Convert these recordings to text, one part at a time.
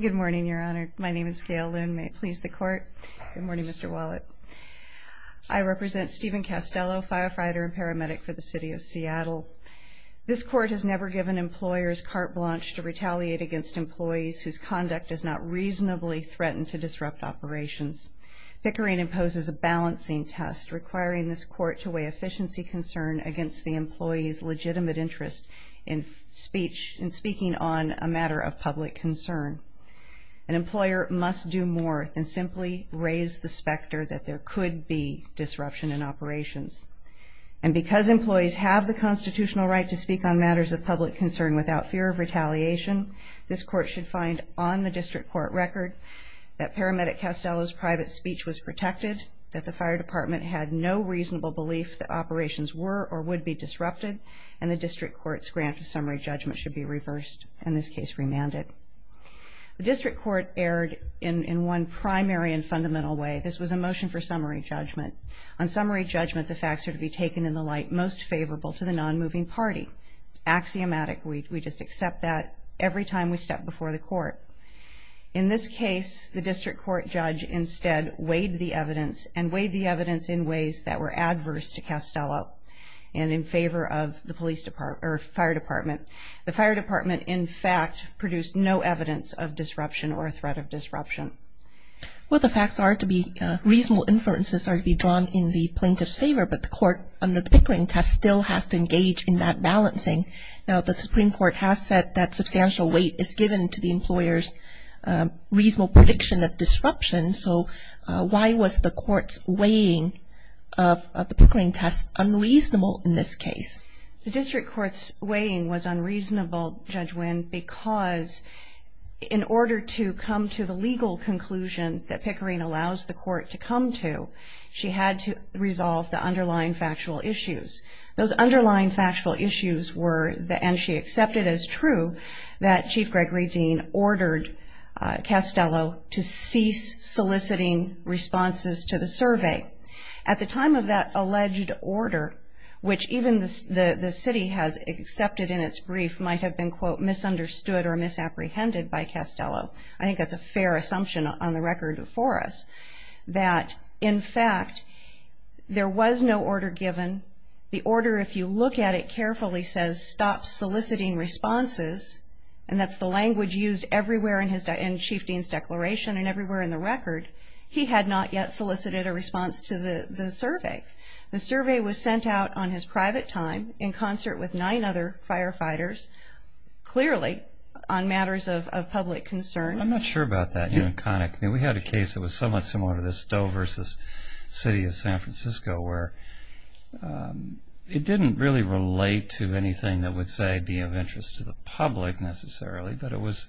Good morning, Your Honor. My name is Gail Loon. May it please the court? Good morning, Mr. Wallet. I represent Steven Castello, firefighter and paramedic for the City of Seattle. This court has never given employers carte blanche to retaliate against employees whose conduct is not reasonably threatened to disrupt operations. Pickering imposes a balancing test requiring this court to weigh efficiency concern against the employees legitimate interest in speech and speaking on a matter of public concern. An employer must do more than simply raise the specter that there could be disruption in operations. And because employees have the constitutional right to speak on matters of public concern without fear of retaliation, this court should find on the district court record that paramedic Castello's private speech was protected, that the fire department had no reasonable belief that operations were or would be disrupted, and the district court's grant of summary judgment should be reversed, in this case remanded. The district court erred in in one primary and fundamental way. This was a motion for summary judgment. On summary judgment, the facts are to be taken in the light most favorable to the non-moving party. It's axiomatic. We just accept that every time we step before the court. In this case, the district court judge instead weighed the evidence and weighed the evidence in ways that were adverse to Castello and in favor of the police department or fire department. The fire department, in fact, produced no evidence of disruption or a threat of disruption. Well, the facts are to be reasonable inferences are to be drawn in the plaintiff's favor, but the court under the Pickering test still has to engage in that balancing. Now, the Supreme Court has said that substantial weight is given to the employer's reasonable prediction of disruption. So why was the court's weighing of the Pickering test unreasonable in this case? The district court's weighing was unreasonable, Judge Nguyen, because in order to come to the legal conclusion that Pickering allows the court to come to, she had to resolve the underlying factual issues. Those underlying factual issues were, and she accepted as true, that Chief Gregory Dean ordered Castello to cease soliciting responses to the survey. At the time of that alleged order, which even the city has accepted in its brief might have been, quote, misunderstood or misapprehended by Castello. I think that's a fair assumption on the record for us, that, in fact, there was no order given. The order, if you look at it carefully, says stop soliciting responses, and that's the language used everywhere in Chief Dean's declaration and everywhere in the record. He had not yet solicited a response to the survey. The survey was sent out on his private time in concert with nine other firefighters, clearly on matters of public concern. I'm not sure about that, Nguyen-Khanh, I mean, we had a case that was somewhat similar to this Doe versus City of San Francisco, where it didn't really relate to anything that would, say, be of interest to the public, necessarily. But it was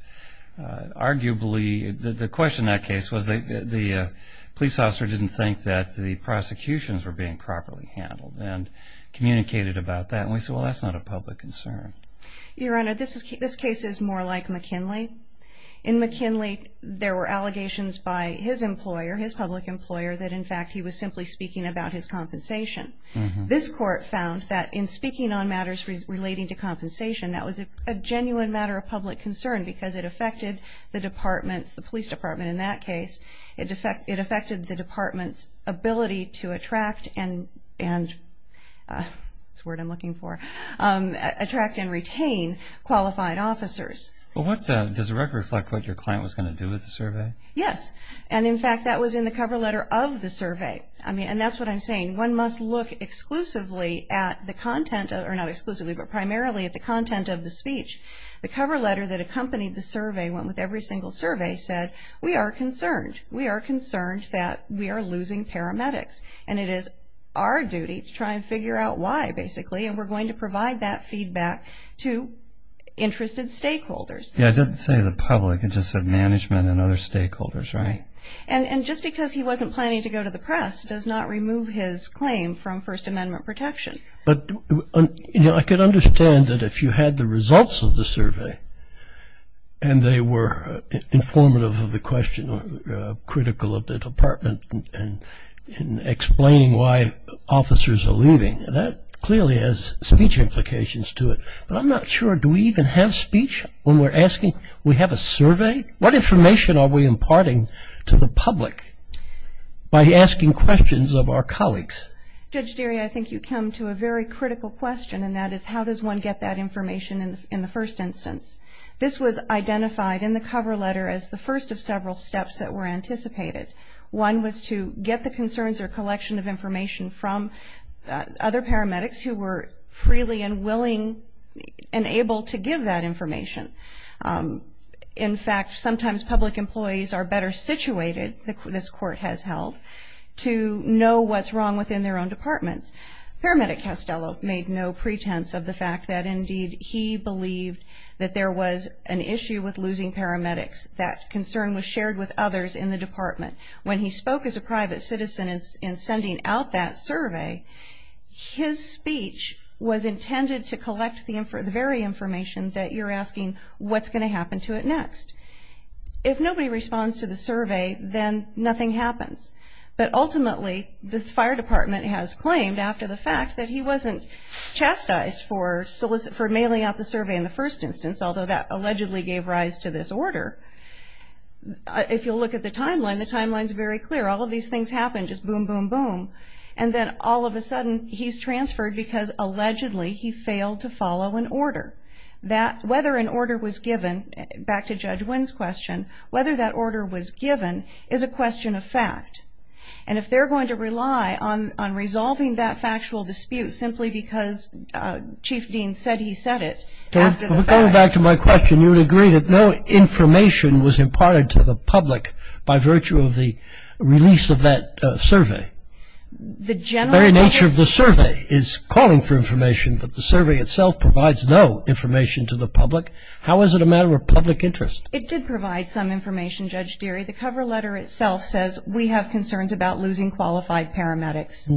arguably, the question in that case was the police officer didn't think that the prosecutions were being properly handled, and communicated about that, and we said, well, that's not a public concern. Your Honor, this case is more like McKinley. In McKinley, there were allegations by his employer, his public employer, that, in fact, he was simply speaking about his compensation. This court found that in speaking on matters relating to compensation, that was a genuine matter of public concern, because it affected the department's, the police department in that case, it affected the department's ability to attract and, that's the word I'm looking for, attract and retain qualified officers. Well, does the record reflect what your client was going to do with the survey? Yes, and, in fact, that was in the cover letter of the survey. I mean, and that's what I'm saying, one must look exclusively at the content, or not exclusively, but primarily at the content of the speech. The cover letter that accompanied the survey, went with every single survey, said, we are concerned, we are concerned that we are losing paramedics, and it is our duty to try and figure out why, basically, and we're going to provide that feedback to interested stakeholders. Yeah, it didn't say the public, it just said management and other stakeholders, right? And just because he wasn't planning to go to the press, does not remove his claim from First Amendment protection. But, you know, I could understand that if you had the results of the survey, and they were informative of the question, or critical of the department in explaining why officers are leaving, that clearly has speech implications to it. But I'm not sure, do we even have speech when we're asking, we have a survey? What information are we imparting to the public by asking questions of our colleagues? Judge Deary, I think you come to a very critical question, and that is, how does one get that information in the first instance? This was identified in the cover letter as the first of several steps that were anticipated. One was to get the concerns or collection of information from other paramedics who were freely and willing and able to give that information. In fact, sometimes public employees are better situated, this court has held, to know what's wrong within their own departments. Paramedic Castello made no pretense of the fact that, indeed, he believed that there was an issue with losing paramedics, that concern was shared with others in the department. When he spoke as a private citizen in sending out that survey, his speech was intended to collect the very information that you're asking, what's going to happen to it next? If nobody responds to the survey, then nothing happens. But ultimately, the fire department has claimed, after the fact, that he wasn't chastised for mailing out the survey in the first instance, although that allegedly gave rise to this order. If you'll look at the timeline, the timeline's very clear. All of these things happen, just boom, boom, boom. And then all of a sudden, he's transferred because, allegedly, he failed to follow an order. That, whether an order was given, back to Judge Wynn's question, whether that order was given is a question of fact. And if they're going to rely on resolving that factual dispute simply because Chief Dean said he said it, after the fact. But going back to my question, you would agree that no information was imparted to the public by virtue of the release of that survey. The general nature of the survey is calling for information, but the survey itself provides no information to the public. How is it a matter of public interest? It did provide some information, Judge Deary. The cover letter itself says we have concerns about losing qualified paramedics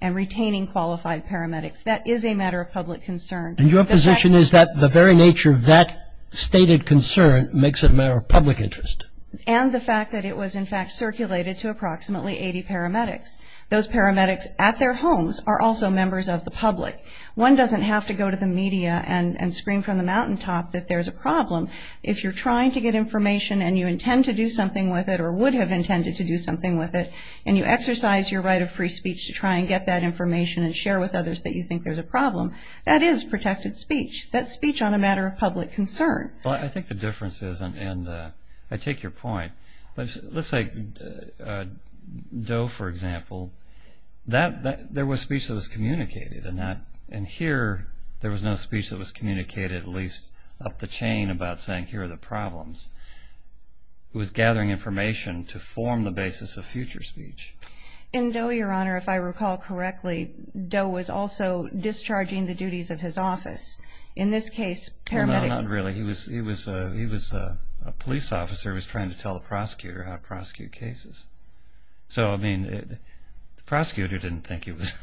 and retaining qualified paramedics. That is a matter of public concern. And your position is that the very nature of that stated concern makes it a matter of public interest. And the fact that it was, in fact, circulated to approximately 80 paramedics. Those paramedics at their homes are also members of the public. One doesn't have to go to the media and scream from the mountaintop that there's a problem. If you're trying to get information and you intend to do something with it or would have intended to do something with it, and you exercise your right of free speech to try and get that information and share with others that you think there's a problem, that is protected speech. That's speech on a matter of public concern. Well, I think the difference is, and I take your point, but let's say Doe, for example. There was speech that was communicated and here there was no speech that was communicated, at least up the chain, about saying here are the problems. It was gathering information to form the basis of future speech. In Doe, Your Honor, if I recall correctly, Doe was also discharging the duties of his office. In this case, paramedics. No, not really. He was a police officer. He was trying to tell the prosecutor how to prosecute cases. So, I mean, the prosecutor didn't think he was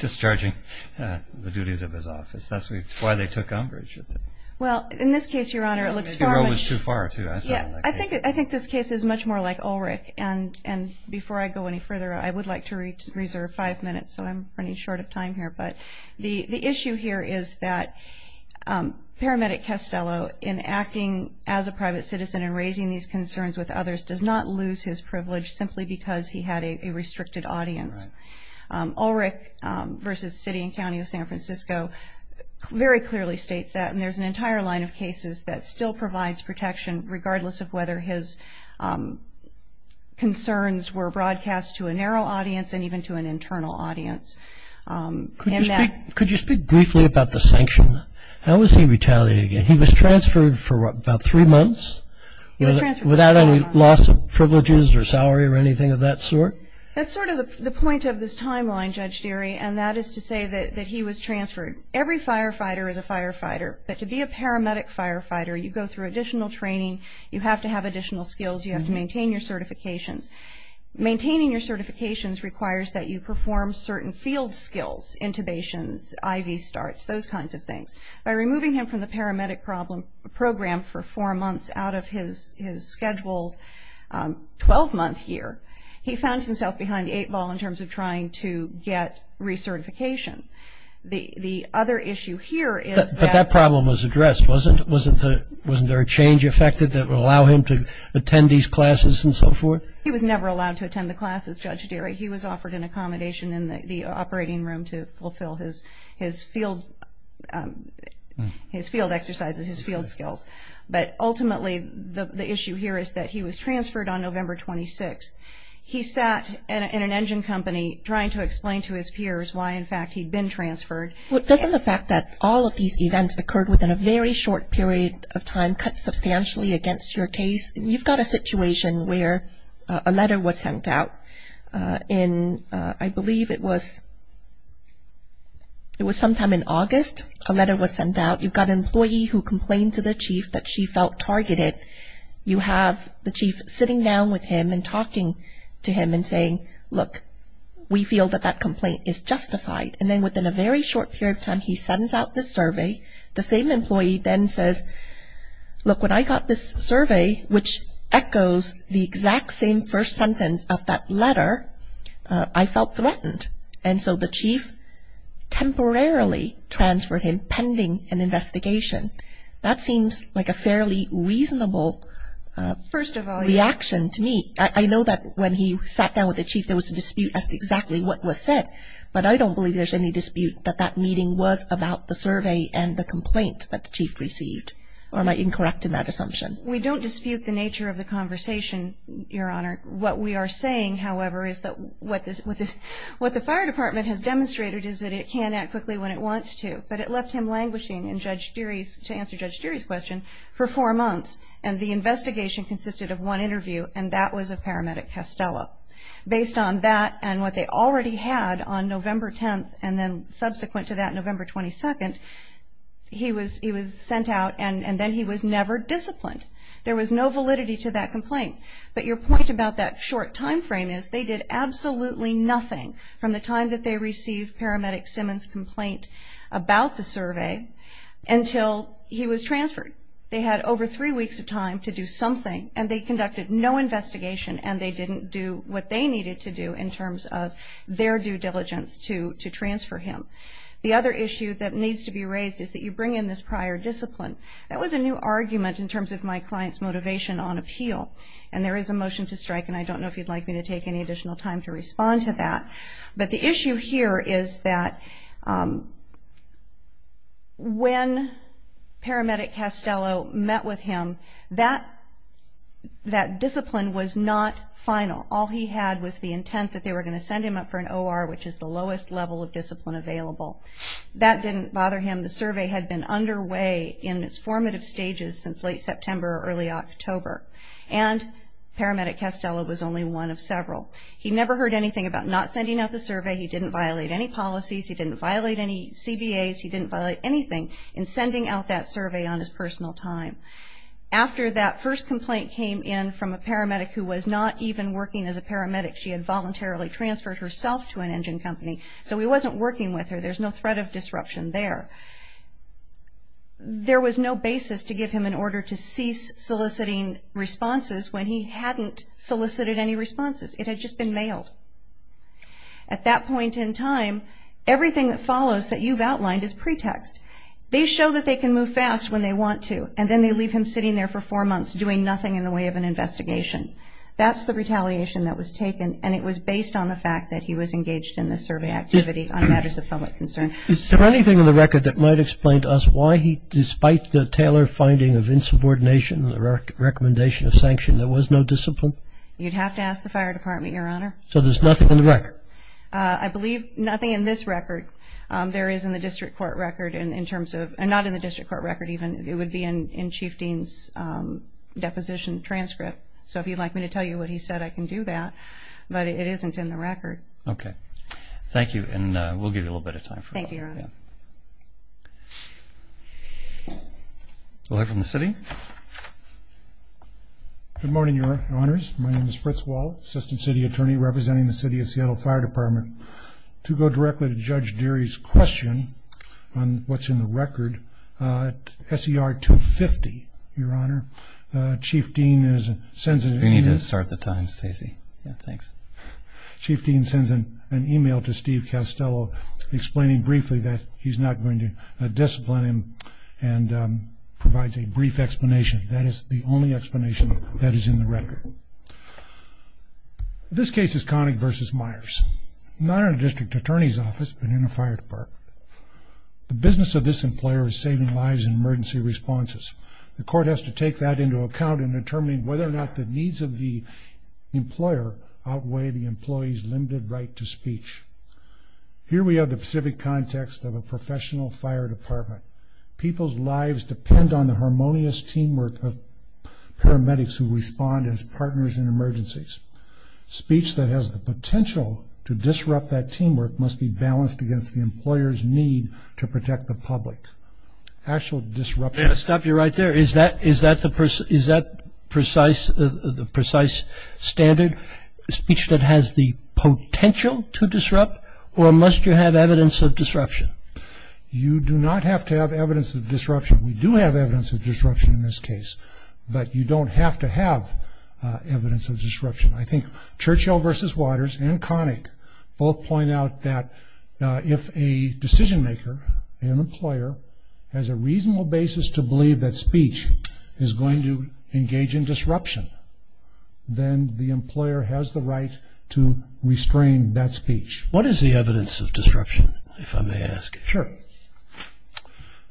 discharging the duties of his office. That's why they took umbrage with him. Well, in this case, Your Honor, it looks far much. The road was too far, too. I saw it in that case. I think this case is much more like Ulrich. And before I go any further, I would like to reserve five minutes. So I'm running short of time here. But the issue here is that paramedic Castello, in acting as a private citizen and raising these concerns with others, does not lose his privilege simply because he had a restricted audience. Ulrich versus City and County of San Francisco very clearly states that. And there's an entire line of cases that still provides protection regardless of whether his concerns were broadcast to a narrow audience and even to an internal audience. Could you speak briefly about the sanction? How was he retaliated? He was transferred for about three months without any loss of privileges or salary or anything of that sort. That's sort of the point of this timeline, Judge Deary. And that is to say that he was transferred. Every firefighter is a firefighter. But to be a paramedic firefighter, you go through additional training. You have to have additional skills. You have to maintain your certifications. Maintaining your certifications requires that you perform certain field skills, intubations, IV starts, those kinds of things. By removing him from the paramedic program for four months out of his scheduled 12-month year, he found himself behind the eight ball in terms of trying to get recertification. The other issue here is that. But that problem was addressed, wasn't it? Wasn't there a change affected that would allow him to attend these classes and so forth? He was never allowed to attend the classes, Judge Deary. He was offered an accommodation in the operating room to fulfill his field exercises, his field skills. But ultimately, the issue here is that he was transferred on November 26th. He sat in an engine company trying to explain to his peers why, in fact, he'd been transferred. Well, doesn't the fact that all of these events occurred within a very short period of time cut substantially against your case? You've got a situation where a letter was sent out in, I believe it was sometime in August, a letter was sent out. You've got an employee who complained to the chief that she felt targeted. You have the chief sitting down with him and talking to him and saying, look, we feel that that complaint is justified. And then within a very short period of time, he sends out this survey. The same employee then says, look, when I got this survey, which echoes the exact same first sentence of that letter, I felt threatened. And so the chief temporarily transferred him pending an investigation. That seems like a fairly reasonable reaction to me. I know that when he sat down with the chief, there was a dispute as to exactly what was said. But I don't believe there's any dispute that that meeting was about the survey and the complaint that the chief received. Or am I incorrect in that assumption? We don't dispute the nature of the conversation, Your Honor. What we are saying, however, is that what the fire department has demonstrated is that it can act quickly when it wants to. But it left him languishing in Judge Deary's, to answer Judge Deary's question, for four months. And the investigation consisted of one interview, and that was of paramedic Castello. Based on that, and what they already had on November 10th, and then subsequent to that, November 22nd, he was sent out. And then he was never disciplined. There was no validity to that complaint. But your point about that short time frame is they did absolutely nothing from the time that they received paramedic Simmons' complaint about the survey until he was transferred. They had over three weeks of time to do something, and they conducted no investigation, and they didn't do what they needed to do in terms of their due diligence to transfer him. The other issue that needs to be raised is that you bring in this prior discipline. That was a new argument in terms of my client's motivation on appeal. And there is a motion to strike, and I don't know if you'd like me to take any additional time to respond to that. But the issue here is that when paramedic Castello met with him, that discipline was not final. All he had was the intent that they were going to send him up for an OR, which is the lowest level of discipline available. That didn't bother him. The survey had been underway in its formative stages since late September or early October. And paramedic Castello was only one of several. He never heard anything about not sending out the survey. He didn't violate any policies. He didn't violate any CBAs. He didn't violate anything in sending out that survey on his personal time. After that first complaint came in from a paramedic who was not even working as a paramedic. She had voluntarily transferred herself to an engine company. So he wasn't working with her. There's no threat of disruption there. There was no basis to give him an order to cease soliciting responses when he hadn't solicited any responses. It had just been mailed. At that point in time, everything that follows that you've outlined is pretext. They show that they can move fast when they want to. And then they leave him sitting there for four months doing nothing in the way of an investigation. That's the retaliation that was taken. And it was based on the fact that he was engaged in the survey activity on matters of public concern. Is there anything in the record that might explain to us why he, despite the Taylor finding of insubordination and the recommendation of sanction, there was no discipline? You'd have to ask the fire department, Your Honor. So there's nothing in the record? I believe nothing in this record. There is in the district court record in terms of, not in the district court record even, it would be in Chief Dean's deposition transcript. So if you'd like me to tell you what he said, I can do that. But it isn't in the record. Okay. Thank you. And we'll give you a little bit of time for that. Thank you, Your Honor. Lawyer from the city. Good morning, Your Honors. My name is Fritz Wall, Assistant City Attorney representing the City of Seattle Fire Department. To go directly to Judge Deary's question on what's in the record, SER 250, Your Honor, Chief Dean sends an email to Steve Castello, explaining briefly that he's not going to discipline him and provides a brief explanation, that is the only explanation that is in the record. This case is Connick v. Myers, not in a district attorney's office, but in a fire department. The business of this employer is saving lives in emergency responses. The court has to take that into account in determining whether or not the needs of the employer outweigh the employee's limited right to speech. Here we have the specific context of a professional fire department. People's lives depend on the harmonious teamwork of paramedics who respond as partners in emergencies. Speech that has the potential to disrupt that teamwork must be balanced against the employer's need to protect the public. Actual disruption... Can I stop you right there? Is that the precise standard, speech that has the potential to disrupt, or must you have evidence of disruption? You do not have to have evidence of disruption. We do have evidence of disruption in this case, but you don't have to have evidence of disruption. I think Churchill v. Waters and Connick both point out that if a decision maker, an employer, has a reasonable basis to believe that speech is going to engage in disruption, then the employer has the right to restrain that speech. What is the evidence of disruption, if I may ask? Sure.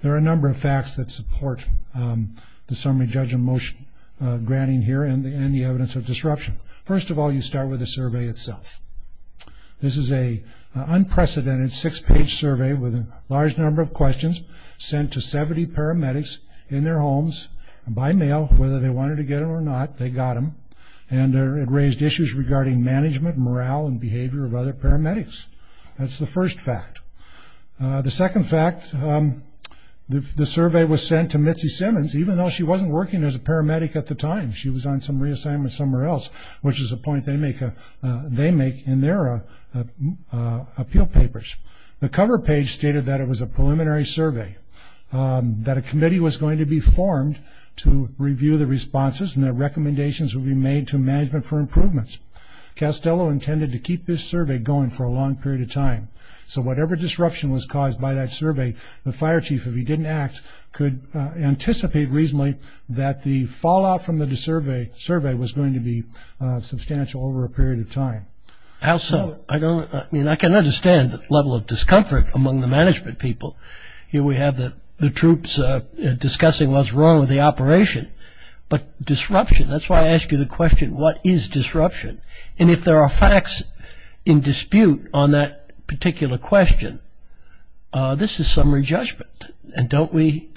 There are a number of facts that support the summary judgment motion granting here and the evidence of disruption. First of all, you start with the survey itself. This is an unprecedented six-page survey with a large number of questions sent to 70 paramedics in their homes by mail. Whether they wanted to get them or not, they got them. And it raised issues regarding management, morale, and behavior of other paramedics. That's the first fact. The second fact, the survey was sent to Mitzi Simmons, even though she wasn't working as a paramedic at the time. She was on some reassignment somewhere else, which is a point they make in their appeal papers. The cover page stated that it was a preliminary survey, that a committee was going to be formed to review the responses, and that recommendations would be made to management for improvements. Castello intended to keep this survey going for a long period of time. So whatever disruption was caused by that survey, the fire chief, if he didn't act, could anticipate reasonably that the fallout from the survey was going to be substantial over a period of time. I can understand the level of discomfort among the management people. Here we have the troops discussing what's wrong with the operation. But disruption, that's why I ask you the question, what is disruption? And if there are facts in dispute on that particular question, this is summary judgment. And don't we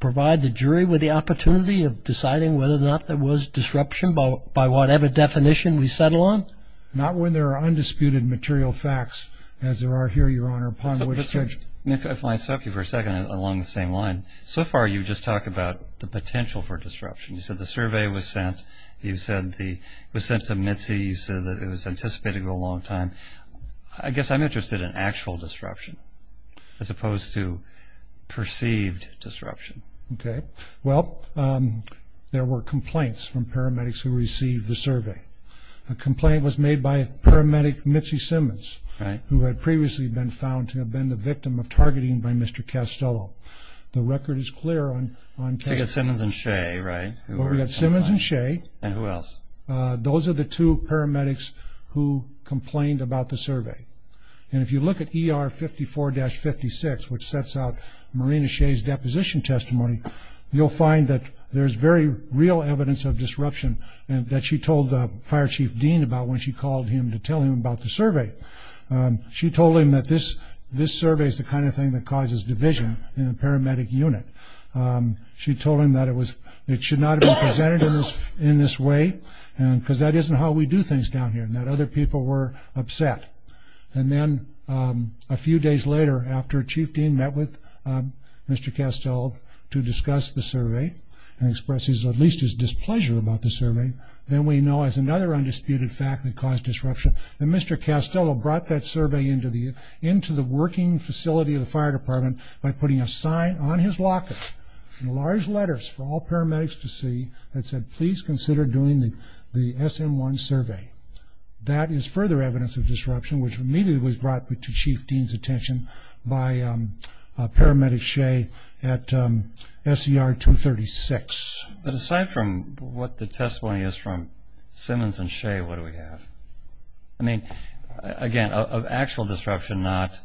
provide the jury with the opportunity of deciding whether or not there was disruption by whatever definition we settle on? Not when there are undisputed material facts, as there are here, Your Honor, upon which search. If I may interrupt you for a second along the same line, so far you've just talked about the potential for disruption. You said the survey was sent, you said it was sent to Mitzi, you said that it was anticipated to go a long time. I guess I'm interested in actual disruption as opposed to perceived disruption. Okay. Well, there were complaints from paramedics who received the survey. A complaint was made by paramedic Mitzi Simmons, who had previously been found to have been the victim of targeting by Mr. Castello. The record is clear on... So you got Simmons and Shea, right? We got Simmons and Shea. And who else? Those are the two paramedics who complained about the survey. And if you look at ER 54-56, which sets out Marina Shea's deposition testimony, you'll find that there's very real evidence of disruption that she told Fire Chief Dean about when she called him to tell him about the survey. She told him that this survey is the kind of thing that causes division in a paramedic unit. She told him that it should not have been presented in this way, because that isn't how we do things down here, and that other people were upset. And then a few days later, after Chief Dean met with Mr. Castello to discuss the survey, and expressed at least his displeasure about the survey, then we know as another undisputed fact that caused disruption, that Mr. Castello brought that survey into the working facility of the fire department by putting a sign on his locker, in large letters for all paramedics to see, that said, please consider doing the SM-1 survey. That is further evidence of disruption, which immediately was brought to Chief Dean's attention by Paramedic Shea at SCR-236. But aside from what the testimony is from Simmons and Shea, what do we have? I mean, again, actual disruption, not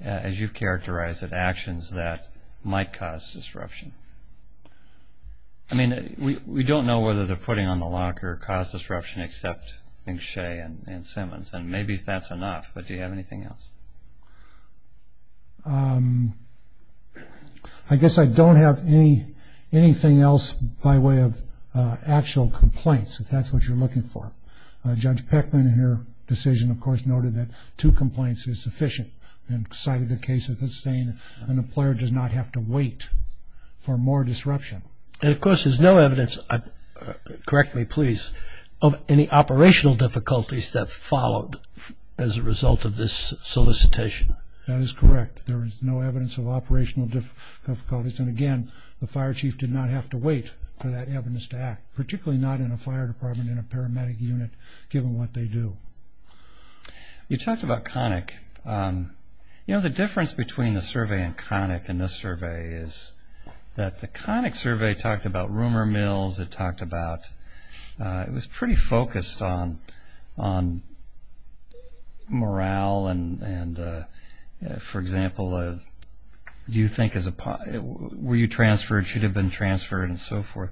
as you've characterized it, actions that might cause disruption. I mean, we don't know whether they're putting on the locker caused disruption except, I think, Shea and Simmons, and maybe that's enough, but do you have anything else? I guess I don't have anything else by way of actual complaints, if that's what you're looking for. Judge Peckman, in her decision, of course, noted that two complaints is sufficient, and cited the case as the same, and an employer does not have to wait for more disruption. And, of course, there's no evidence, correct me please, of any operational difficulties that followed as a result of this solicitation. That is correct. There is no evidence of operational difficulties, and again, the fire chief did not have to wait for that evidence to act, particularly not in a fire department in a paramedic unit, given what they do. You talked about Connick. You know, the difference between the survey on Connick and this survey is that the Connick survey talked about rumor mills, it was pretty focused on morale and, for example, were you transferred, should have been transferred, and so forth.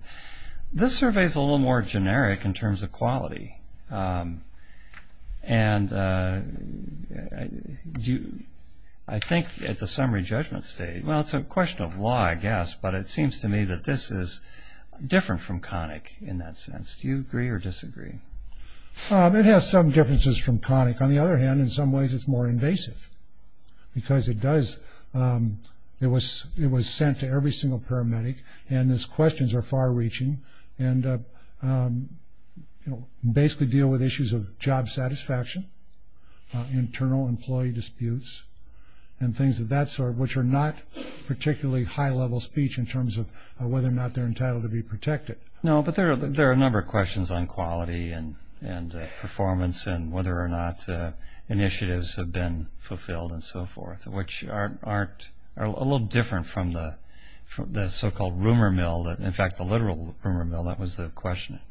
This survey is a little more generic in terms of quality, and I think it's a summary judgment state. Well, it's a question of law, I guess, but it seems to me that this is different from Connick in that sense. Do you agree or disagree? It has some differences from Connick. On the other hand, in some ways it's more invasive, because it was sent to every single paramedic, and its questions are far-reaching and basically deal with issues of job satisfaction, internal employee disputes, and things of that sort, which are not particularly high-level speech in terms of whether or not they're entitled to be protected. No, but there are a number of questions on quality and performance and whether or not initiatives have been fulfilled and so forth, which are a little different from the so-called rumor mill. In fact, the literal rumor mill, that was the question at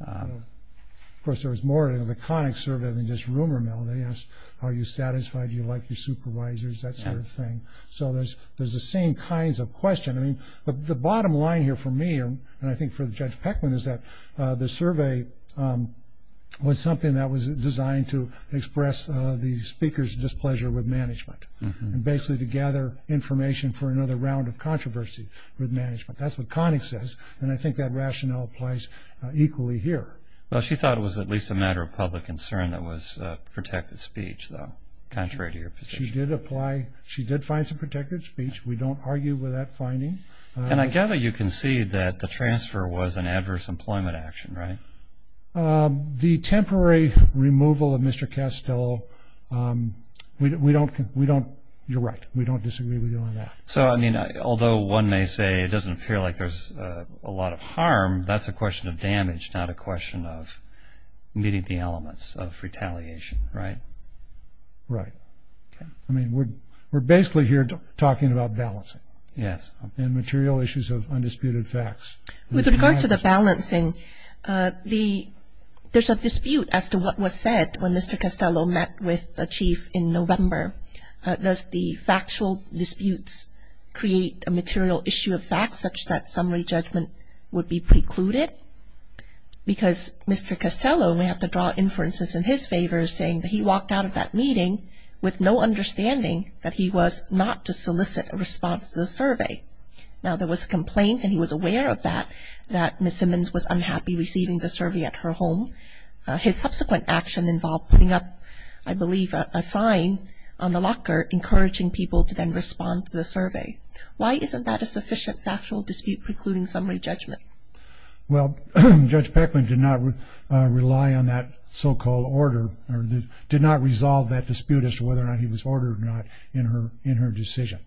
Connick. Of course, there was more in the Connick survey than just rumor mill. They asked, are you satisfied, do you like your supervisors, that sort of thing. So there's the same kinds of questions. I mean, the bottom line here for me, and I think for Judge Peckman, is that the survey was something that was designed to express the speaker's displeasure with management, and basically to gather information for another round of controversy with management. That's what Connick says, and I think that rationale applies equally here. Well, she thought it was at least a matter of public concern that it was protected speech, though, contrary to your position. She did apply. She did find some protected speech. We don't argue with that finding. And I gather you concede that the transfer was an adverse employment action, right? The temporary removal of Mr. Castello, we don't, you're right, we don't disagree with you on that. So, I mean, although one may say it doesn't appear like there's a lot of harm, that's a question of damage, not a question of meeting the elements of retaliation, right? Right. I mean, we're basically here talking about balancing. Yes. And material issues of undisputed facts. With regard to the balancing, there's a dispute as to what was said when Mr. Castello met with the chief in November. Does the factual disputes create a material issue of facts such that summary judgment would be precluded? Because Mr. Castello may have to draw inferences in his favor, saying that he walked out of that meeting with no understanding that he was not to solicit a response to the survey. Now, there was a complaint, and he was aware of that, that Ms. Simmons was unhappy receiving the survey at her home. His subsequent action involved putting up, I believe, a sign on the locker, encouraging people to then respond to the survey. Why isn't that a sufficient factual dispute precluding summary judgment? Well, Judge Peckman did not rely on that so-called order or did not resolve that dispute as to whether or not he was ordered or not in her decision.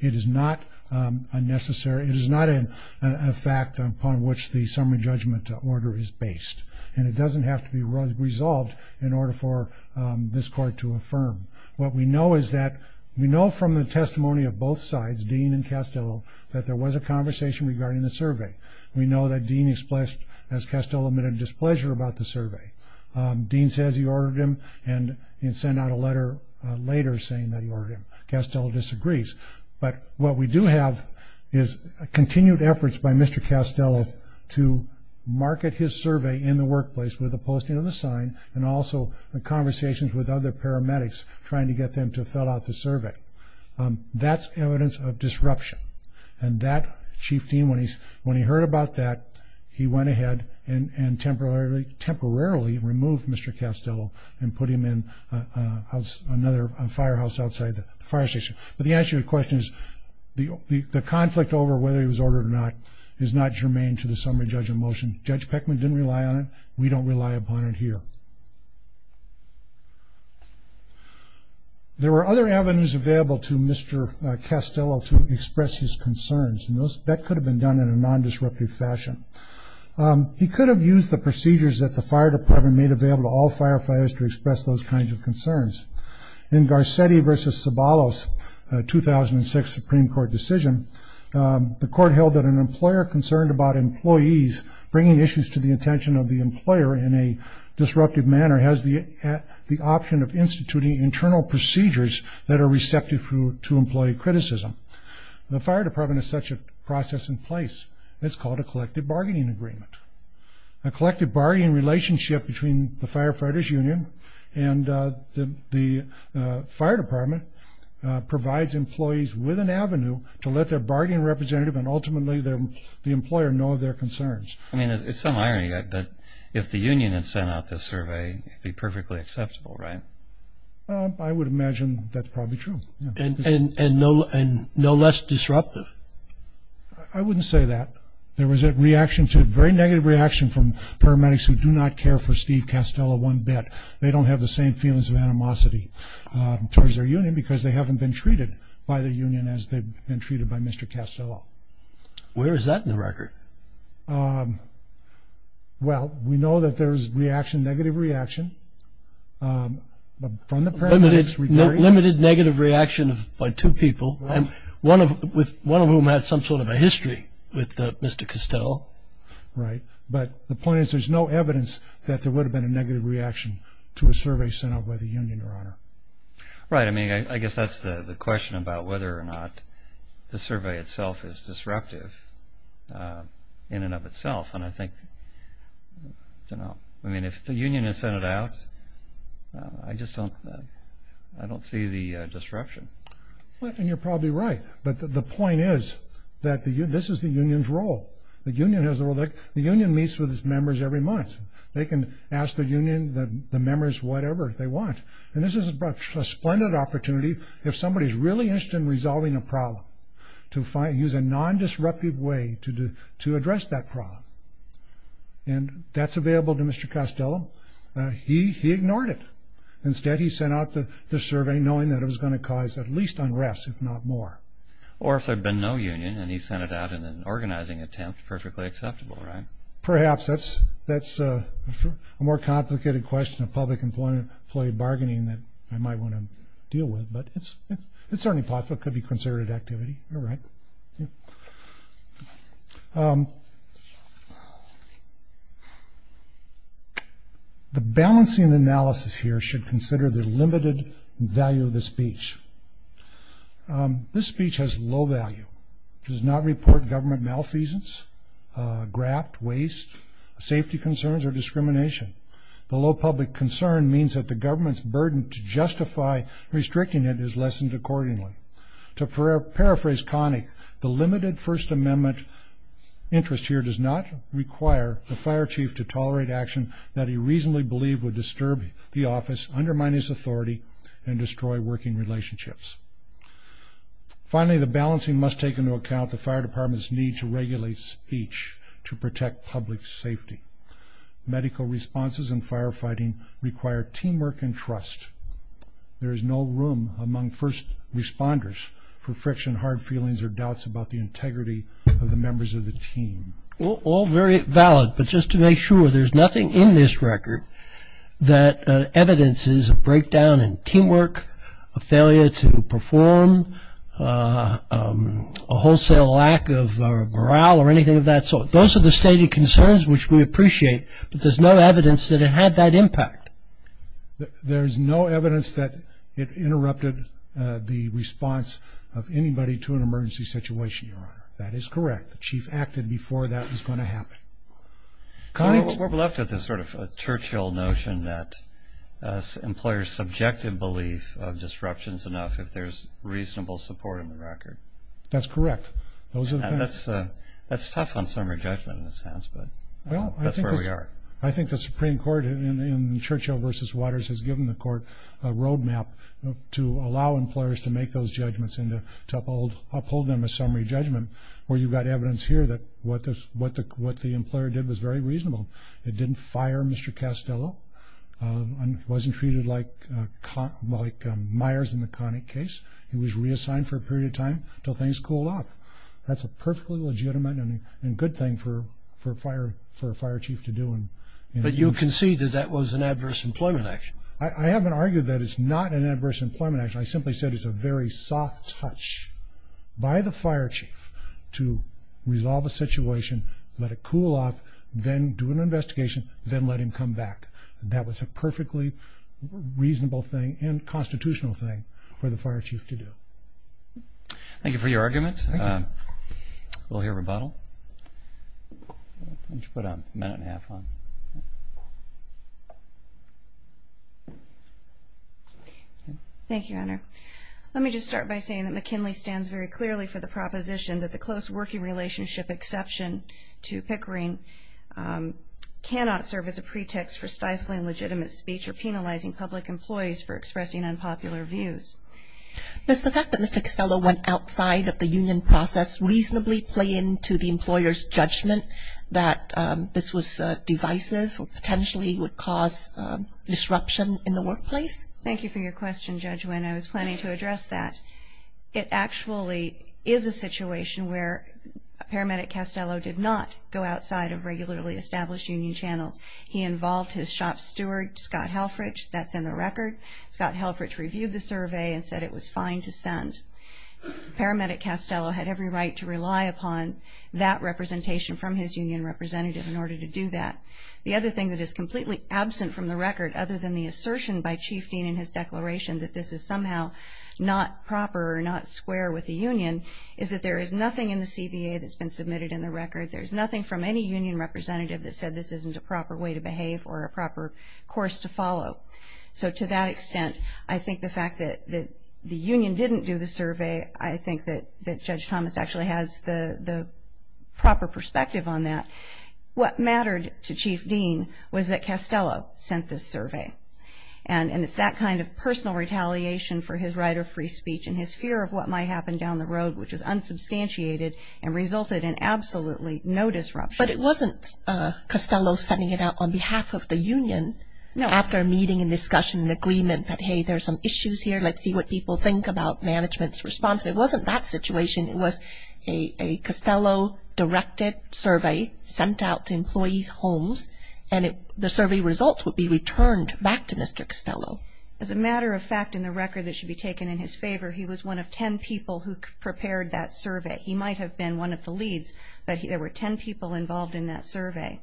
It is not a necessary, it is not a fact upon which the summary judgment order is based, and it doesn't have to be resolved in order for this court to affirm. What we know is that we know from the testimony of both sides, Dean and Castello, that there was a conversation regarding the survey. We know that Dean expressed, as Castello admitted, displeasure about the survey. Dean says he ordered him and sent out a letter later saying that he ordered him. Castello disagrees. But what we do have is continued efforts by Mr. Castello to market his survey in the workplace with a posting of the sign and also conversations with other paramedics trying to get them to fill out the survey. That's evidence of disruption. And that Chief Dean, when he heard about that, he went ahead and temporarily removed Mr. Castello and put him in another firehouse outside the fire station. But the answer to your question is the conflict over whether he was ordered or not is not germane to the summary judgment motion. Judge Peckman didn't rely on it. We don't rely upon it here. There were other avenues available to Mr. Castello to express his concerns, and that could have been done in a non-disruptive fashion. He could have used the procedures that the fire department made available to all firefighters to express those kinds of concerns. In Garcetti v. Sabalos, a 2006 Supreme Court decision, the court held that an employer concerned about employees bringing issues to the attention of the employer in a disruptive manner has the option of instituting internal procedures that are receptive to employee criticism. The fire department has such a process in place. It's called a collective bargaining agreement. A collective bargaining relationship between the firefighters' union and the fire department provides employees with an avenue to let their bargaining representative and ultimately the employer know of their concerns. I mean, it's some irony, but if the union had sent out this survey, it would be perfectly acceptable, right? I would imagine that's probably true. And no less disruptive? I wouldn't say that. There was a reaction to a very negative reaction from paramedics who do not care for Steve Castello one bit. They don't have the same feelings of animosity towards their union because they haven't been treated by the union as they've been treated by Mr. Castello. Where is that in the record? Well, we know that there's reaction, negative reaction from the paramedics. Limited negative reaction by two people, one of whom had some sort of a history with Mr. Castello. Right, but the point is there's no evidence that there would have been a negative reaction Right, I mean, I guess that's the question about whether or not the survey itself is disruptive in and of itself. And I think, you know, I mean, if the union has sent it out, I just don't see the disruption. Well, I think you're probably right, but the point is that this is the union's role. The union meets with its members every month. They can ask the union, the members, whatever they want. And this is a splendid opportunity if somebody's really interested in resolving a problem to use a non-disruptive way to address that problem. And that's available to Mr. Castello. He ignored it. Instead, he sent out the survey knowing that it was going to cause at least unrest, if not more. Or if there had been no union and he sent it out in an organizing attempt, perfectly acceptable, right? Perhaps that's a more complicated question of public employee bargaining that I might want to deal with, but it's certainly possible. It could be considered activity. You're right. The balancing analysis here should consider the limited value of the speech. This speech has low value. It does not report government malfeasance, graft, waste, safety concerns, or discrimination. The low public concern means that the government's burden to justify restricting it is lessened accordingly. To paraphrase Connick, the limited First Amendment interest here does not require the fire chief to tolerate action that he reasonably believed would disturb the office, undermine his authority, and destroy working relationships. Finally, the balancing must take into account the fire department's need to regulate speech to protect public safety. Medical responses in firefighting require teamwork and trust. There is no room among first responders for friction, hard feelings, or doubts about the integrity of the members of the team. All very valid, but just to make sure, there's nothing in this record that evidences a breakdown in teamwork, a failure to perform, a wholesale lack of morale, or anything of that sort. Those are the stated concerns which we appreciate, but there's no evidence that it had that impact. There's no evidence that it interrupted the response of anybody to an emergency situation, Your Honor. That is correct. The chief acted before that was going to happen. We're left with this sort of Churchill notion that employers subject in belief of disruptions enough if there's reasonable support in the record. That's correct. That's tough on summary judgment in a sense, but that's where we are. I think the Supreme Court in Churchill v. Waters has given the court a roadmap to allow employers to make those judgments and to uphold them as summary judgment, where you've got evidence here that what the employer did was very reasonable. It didn't fire Mr. Castello. He wasn't treated like Myers in the Connick case. He was reassigned for a period of time until things cooled off. That's a perfectly legitimate and good thing for a fire chief to do. But you concede that that was an adverse employment action. I haven't argued that it's not an adverse employment action. I simply said it's a very soft touch by the fire chief to resolve a situation, let it cool off, then do an investigation, then let him come back. That was a perfectly reasonable thing and constitutional thing for the fire chief to do. Thank you for your argument. We'll hear rebuttal. Why don't you put a minute and a half on? Thank you, Honor. Let me just start by saying that McKinley stands very clearly for the proposition that the close working relationship exception to Pickering cannot serve as a pretext for stifling legitimate speech or penalizing public employees for expressing unpopular views. Does the fact that Mr. Castello went outside of the union process reasonably play into the employer's judgment that this was divisive or potentially would cause disruption in the workplace? Thank you for your question, Judge Winn. I was planning to address that. It actually is a situation where Paramedic Castello did not go outside of regularly established union channels. He involved his shop steward, Scott Halfridge. That's in the record. Paramedic Castello had every right to rely upon that representation from his union representative in order to do that. The other thing that is completely absent from the record, other than the assertion by Chief Dean in his declaration that this is somehow not proper or not square with the union, is that there is nothing in the CBA that's been submitted in the record. There's nothing from any union representative that said this isn't a proper way to behave or a proper course to follow. So to that extent, I think the fact that the union didn't do the survey, I think that Judge Thomas actually has the proper perspective on that. What mattered to Chief Dean was that Castello sent this survey. And it's that kind of personal retaliation for his right of free speech and his fear of what might happen down the road, which is unsubstantiated, and resulted in absolutely no disruption. But it wasn't Castello sending it out on behalf of the union after a meeting and discussion and agreement that, hey, there's some issues here, let's see what people think about management's response. It wasn't that situation. It was a Castello-directed survey sent out to employees' homes, and the survey results would be returned back to Mr. Castello. As a matter of fact, in the record that should be taken in his favor, he was one of ten people who prepared that survey. He might have been one of the leads, but there were ten people involved in that survey.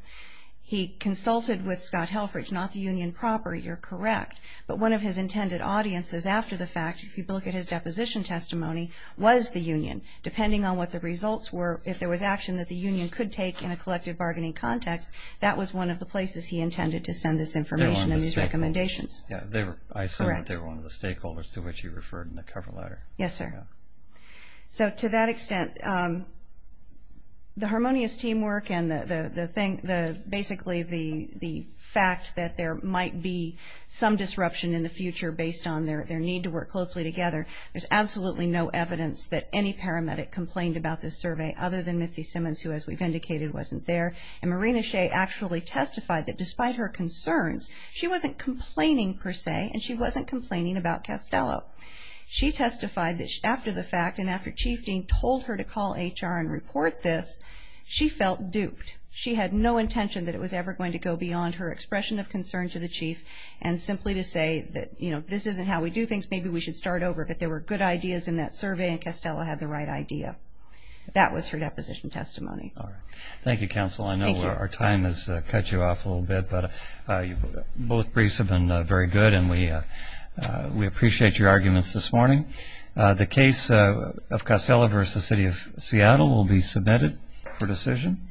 He consulted with Scott Helfrich, not the union proper. You're correct. But one of his intended audiences after the fact, if you look at his deposition testimony, was the union. Depending on what the results were, if there was action that the union could take in a collective bargaining context, that was one of the places he intended to send this information and these recommendations. I assume that they were one of the stakeholders to which he referred in the cover letter. Yes, sir. So to that extent, the harmonious teamwork and basically the fact that there might be some disruption in the future based on their need to work closely together, there's absolutely no evidence that any paramedic complained about this survey other than Mitzi Simmons, who, as we've indicated, wasn't there. And Marina Shea actually testified that despite her concerns, she wasn't complaining, per se, and she wasn't complaining about Castello. She testified that after the fact and after Chief Dean told her to call HR and report this, she felt duped. She had no intention that it was ever going to go beyond her expression of concern to the chief and simply to say that, you know, this isn't how we do things, maybe we should start over, but there were good ideas in that survey and Castello had the right idea. That was her deposition testimony. All right. Thank you, Counsel. Thank you. I know our time has cut you off a little bit, but both briefs have been very good, and we appreciate your arguments this morning. The case of Castello v. City of Seattle will be submitted for decision.